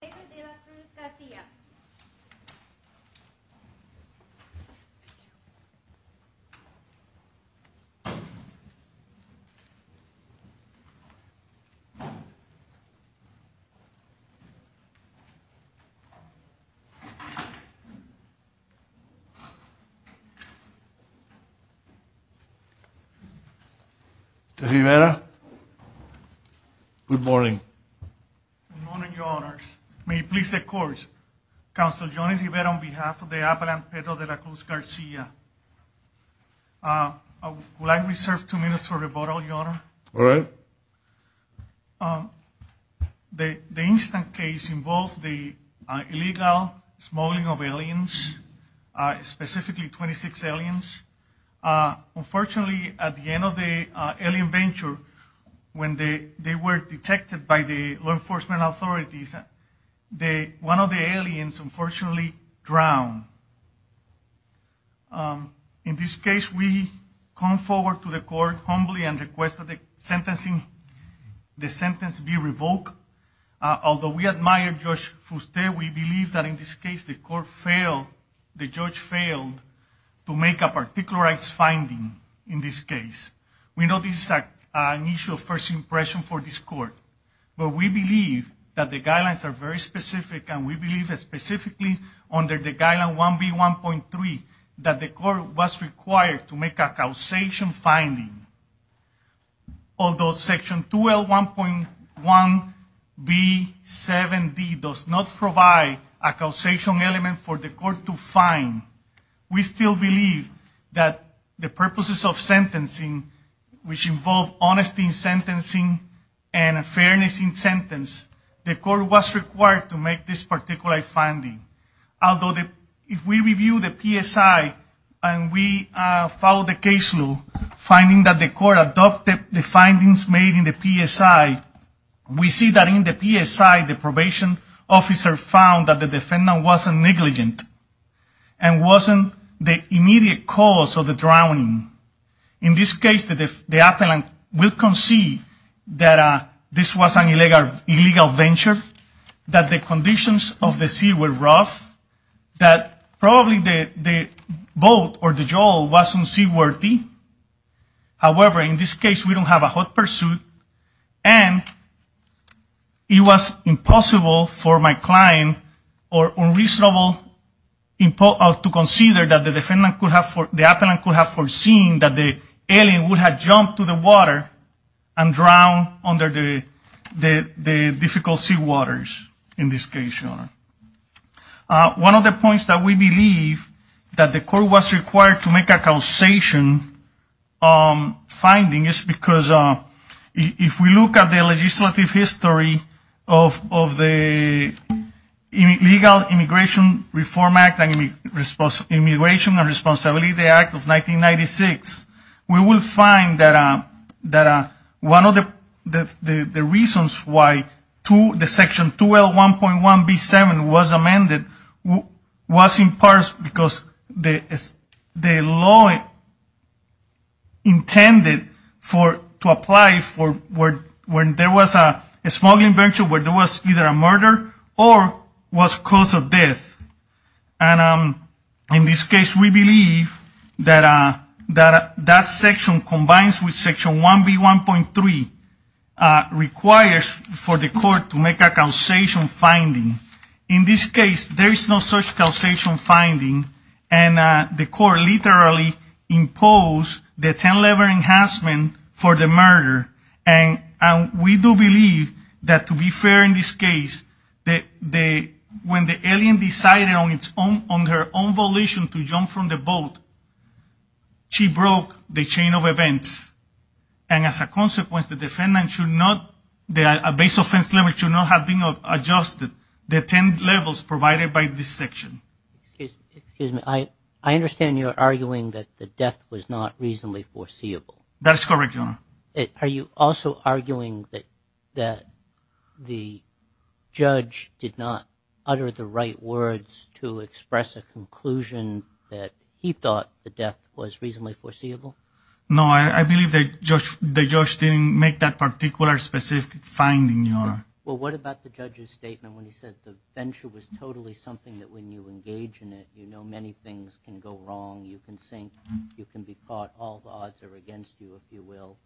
V. De La Cruz-Garcia увá ayúdanos Good morning, your honors. May it please the courts. Councilor Johnny Rivera on behalf of the Avalanche Pedro de la Cruz Garcia. I would like to reserve two minutes for rebuttal, your honor. All right. The instant case involves the illegal smuggling of aliens, specifically 26 aliens. Unfortunately, at the end of the alien venture, when they were detected by the law enforcement authorities, one of the aliens unfortunately drowned. In this case, we come forward to the court humbly and request that the sentence be revoked. Although we admire Judge Fuste, we believe that in this case the court failed, the judge failed to make a particularized finding in this case. We know this is an issue of first impression for this court. But we believe that the guidelines are very specific and we believe specifically under the guideline 1B1.3 that the court was required to make a causation finding. Although section 2L1.1B7D does not provide a causation element for the court to find, we still believe that the purposes of sentencing, which involve honesty in sentencing and fairness in sentence, the court was required to make this particular finding. Although if we review the PSI and we follow the case law, finding that the court adopted the findings made in the PSI, we see that in the PSI the probation officer found that the defendant wasn't negligent and wasn't the immediate cause of the drowning. In this case, the appellant will concede that this was an illegal venture, that the conditions of the sea were rough, that probably the boat or the jowl wasn't seaworthy. However, in this case, we don't have a hot pursuit and it was impossible for my client or unreasonable to consider that the appellant could have foreseen that the alien would have jumped to the water and drowned under the difficult seawaters in this case. One of the points that we believe that the court was required to make a causation finding is because if we look at the legislative history of the Legal Immigration Reform Act and Immigration and Responsibility Act of 1996, we will find that one of the reasons why Section 2L1.1B7 was amended was in part because the law intended to apply when there was a smuggling venture where there was either a murder or was cause of death. In this case, we believe that that section combines with Section 1B1.3 requires for the court to make a causation finding. In this case, there is no such causation finding and the court literally imposed the 10-level enhancement for the murder. And we do believe that to be fair in this case, when the alien decided on her own volition to jump from the boat, she broke the chain of events. And as a consequence, the base offense limit should not have been adjusted, the 10 levels provided by this section. Excuse me, I understand you're arguing that the death was not reasonably foreseeable. That's correct, Your Honor. Are you also arguing that the judge did not utter the right words to express a conclusion that he thought the death was reasonably foreseeable? No, I believe the judge didn't make that particular specific finding, Your Honor. Well, what about the judge's statement when he said the venture was totally something that when you engage in it, you know, many things can go wrong. You can sink. You can be caught. All odds are against you, if you will.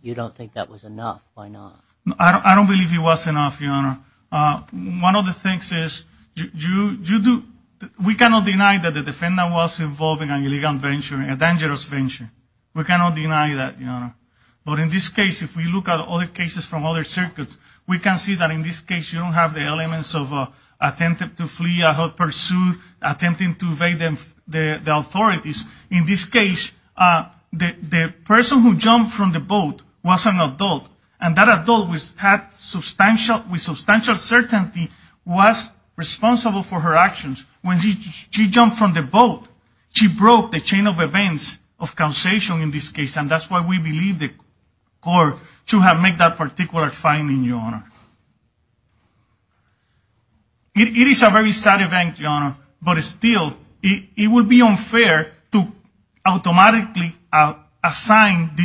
You don't think that was enough. Why not? I don't believe it was enough, Your Honor. One of the things is we cannot deny that the defendant was involved in an illegal venture, a dangerous venture. We cannot deny that, Your Honor. But in this case, if we look at other cases from other circuits, we can see that in this case you don't have the elements of attempted to flee, attempted to evade the authorities. In this case, the person who jumped from the boat was an adult, and that adult had substantial certainty was responsible for her actions. When she jumped from the boat, she broke the chain of events of causation in this case. And that's why we believe the court should have made that particular finding, Your Honor. It is a very sad event, Your Honor, but still, it would be unfair to automatically assign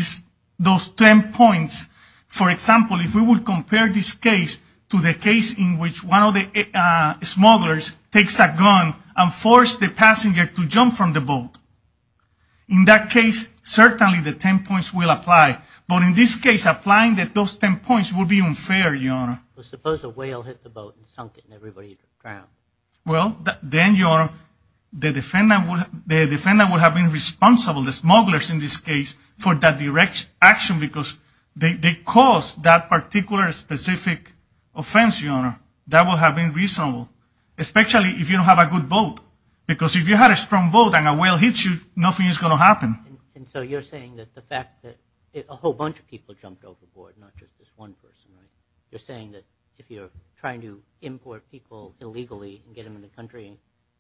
those 10 points. For example, if we would compare this case to the case in which one of the smugglers takes a gun and forced the passenger to jump from the boat, in that case, certainly the 10 points will apply. But in this case, applying those 10 points would be unfair, Your Honor. Suppose a whale hit the boat and sunk it and everybody drowned. Well, then, Your Honor, the defendant would have been responsible, the smugglers in this case, for that direct action because they caused that particular specific offense, Your Honor. That would have been reasonable, especially if you don't have a good boat. Because if you had a strong boat and a whale hits you, nothing is going to happen. And so you're saying that the fact that a whole bunch of people jumped overboard, not just this one person, right? You're saying that if you're trying to import people illegally and get them in the country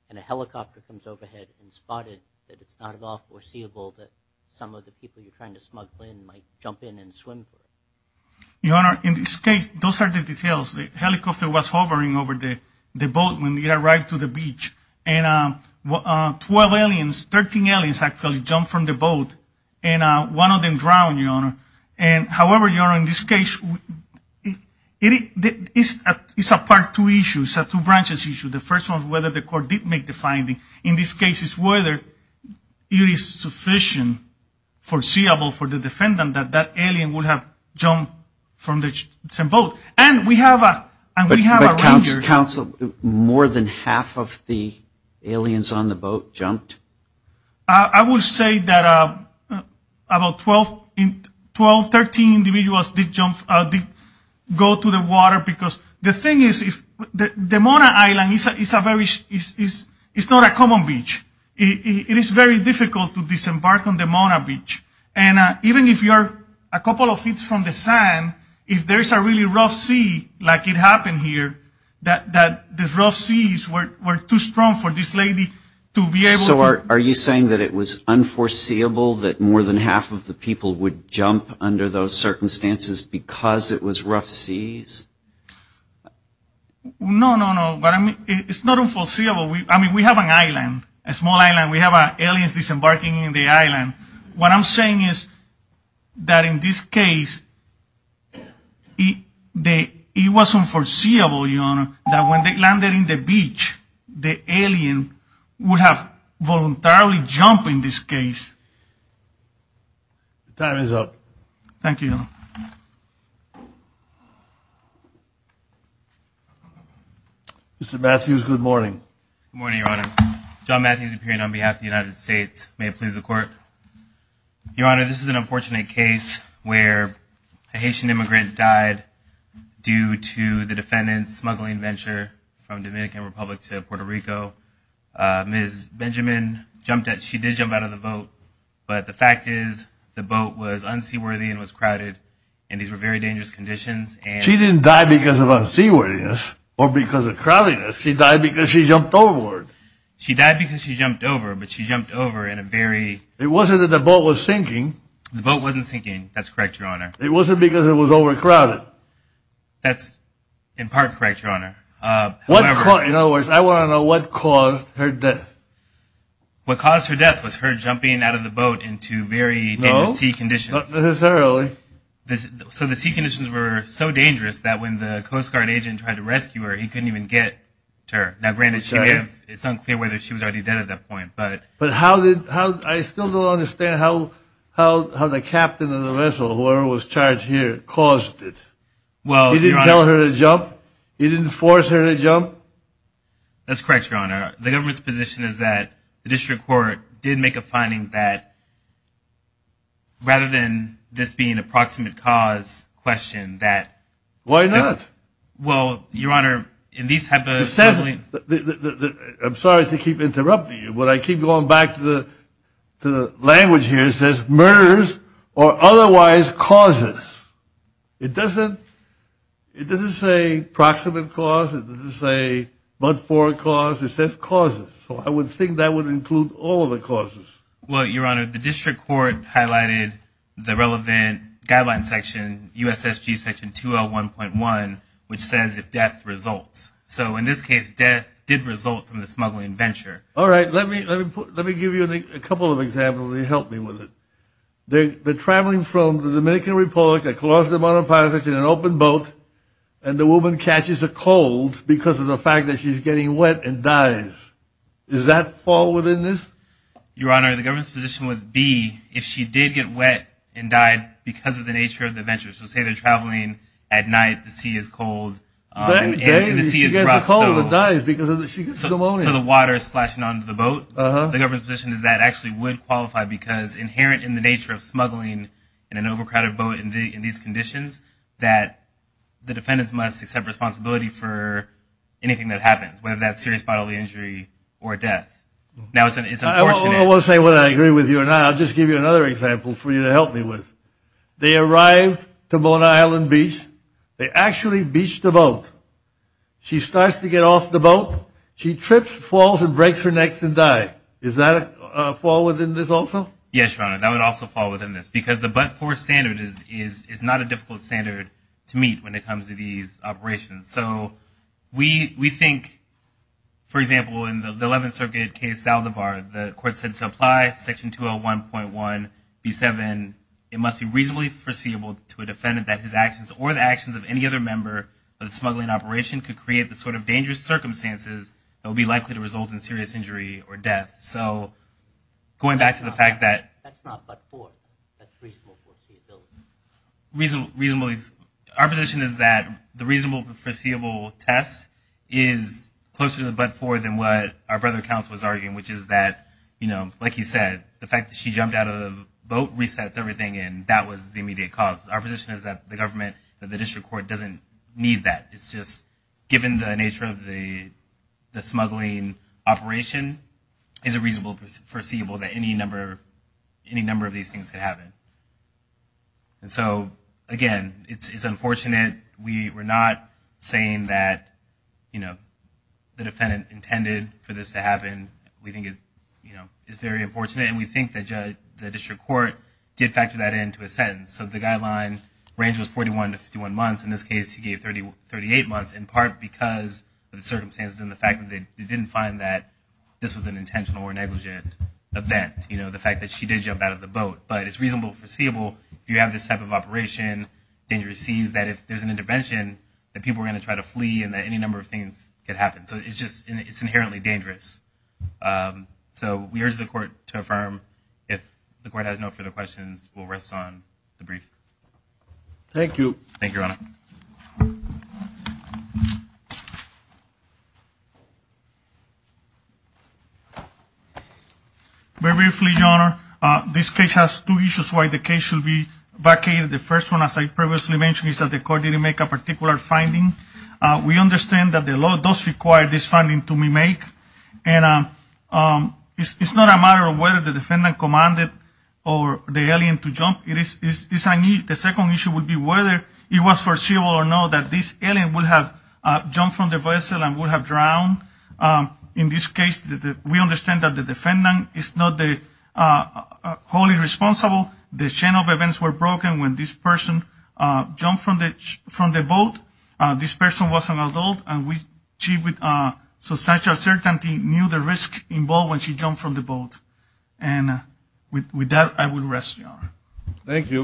and a helicopter comes overhead and spotted, that it's not at all foreseeable that some of the people you're trying to smuggle in might jump in and swim for it? Your Honor, in this case, those are the details. The helicopter was hovering over the boat when it arrived to the beach. And 12 aliens, 13 aliens, actually jumped from the boat. And one of them drowned, Your Honor. However, Your Honor, in this case, it's a part two issue. It's a two-branches issue. The first one is whether the court did make the finding. In this case, it's whether it is sufficient, foreseeable for the defendant, that that alien would have jumped from the same boat. And we have a ranger. But, counsel, more than half of the aliens on the boat jumped? I would say that about 12, 13 individuals did go to the water because the thing is, the Mona Island is not a common beach. It is very difficult to disembark on the Mona Beach. And even if you're a couple of feet from the sand, if there's a really rough sea, like it happened here, that the rough seas were too strong for this lady to be able to... So are you saying that it was unforeseeable that more than half of the people would jump under those circumstances because it was rough seas? No, no, no. But I mean, it's not unforeseeable. I mean, we have an island, a small island. We have aliens disembarking in the island. What I'm saying is that in this case, it was unforeseeable, Your Honor, that when they landed in the beach, the alien would have voluntarily jumped in this case. The time is up. Thank you, Your Honor. Mr. Matthews, good morning. Good morning, Your Honor. John Matthews appearing on behalf of the United States. May it please the Court. Your Honor, this is an unfortunate case where a Haitian immigrant died due to the defendant's smuggling venture from Dominican Republic to Puerto Rico. Ms. Benjamin jumped out. She did jump out of the boat, but the fact is the boat was unseaworthy and was crowded, and these were very dangerous conditions. She didn't die because of unseaworthiness or because of crowdedness. She died because she jumped overboard. She died because she jumped over, but she jumped over in a very – It wasn't that the boat was sinking. The boat wasn't sinking. That's correct, Your Honor. It wasn't because it was overcrowded. That's in part correct, Your Honor. In other words, I want to know what caused her death. What caused her death was her jumping out of the boat into very dangerous sea conditions. No, not necessarily. So the sea conditions were so dangerous that when the Coast Guard agent tried to rescue her, he couldn't even get to her. Now, granted, it's unclear whether she was already dead at that point. But how did – I still don't understand how the captain of the vessel, whoever was charged here, caused it. He didn't tell her to jump? He didn't force her to jump? That's correct, Your Honor. The government's position is that the district court did make a finding that rather than this being an approximate cause question that – Why not? Well, Your Honor, in these – I'm sorry to keep interrupting you, but I keep going back to the language here. It says murders or otherwise causes. It doesn't say approximate cause. It doesn't say but for a cause. It says causes. So I would think that would include all of the causes. Well, Your Honor, the district court highlighted the relevant guideline section, USSG section 2L1.1, which says if death results. So in this case, death did result from the smuggling venture. All right. Let me give you a couple of examples. Help me with it. They're traveling from the Dominican Republic, a closeted monoposite in an open boat, and the woman catches a cold because of the fact that she's getting wet and dies. Does that fall within this? Your Honor, the government's position would be if she did get wet and died because of the nature of the venture. So say they're traveling at night, the sea is cold, and the sea is rough, so the water is splashing onto the boat. The government's position is that actually would qualify because, inherent in the nature of smuggling in an overcrowded boat in these conditions, that the defendants must accept responsibility for anything that happens, whether that's serious bodily injury or death. Now it's unfortunate. I won't say whether I agree with you or not. I'll just give you another example for you to help me with. They arrive to Mona Island Beach. They actually beach the boat. She starts to get off the boat. She trips, falls, and breaks her neck and dies. Does that fall within this also? Yes, Your Honor, that would also fall within this because the but-for standard is not a difficult standard to meet when it comes to these operations. So we think, for example, in the 11th Circuit case Saldivar, the court said to apply Section 201.1B7, it must be reasonably foreseeable to a defendant that his actions or the actions of any other member of the smuggling operation could create the sort of dangerous circumstances that would be likely to result in serious injury or death. So going back to the fact that – That's not but-for. That's reasonable foreseeability. Our position is that the reasonable foreseeable test is closer to the but-for than what our brother counsel was arguing, which is that, you know, like you said, the fact that she jumped out of the boat resets everything, and that was the immediate cause. Our position is that the district court doesn't need that. It's just given the nature of the smuggling operation, it's a reasonable foreseeable that any number of these things could happen. And so, again, it's unfortunate. We're not saying that, you know, the defendant intended for this to happen. We think it's very unfortunate, and we think that the district court did factor that into a sentence. So the guideline range was 41 to 51 months. In this case, he gave 38 months in part because of the circumstances and the fact that they didn't find that this was an intentional or negligent event, you know, the fact that she did jump out of the boat. But it's reasonable foreseeable if you have this type of operation, danger sees that if there's an intervention, that people are going to try to flee and that any number of things could happen. So it's just – it's inherently dangerous. So we urge the court to affirm. If the court has no further questions, we'll rest on the brief. Thank you. Thank you, Your Honor. Very briefly, Your Honor, this case has two issues why the case should be vacated. The first one, as I previously mentioned, is that the court didn't make a particular finding. We understand that the law does require this finding to be made, and it's not a matter of whether the defendant commanded the alien to jump. The second issue would be whether it was foreseeable or not that this alien would have jumped from the vessel and would have drowned. In this case, we understand that the defendant is not wholly responsible. The chain of events were broken when this person jumped from the boat. This person was an adult, and she with substantial certainty knew the risk involved when she jumped from the boat. And with that, I will rest, Your Honor. Thank you.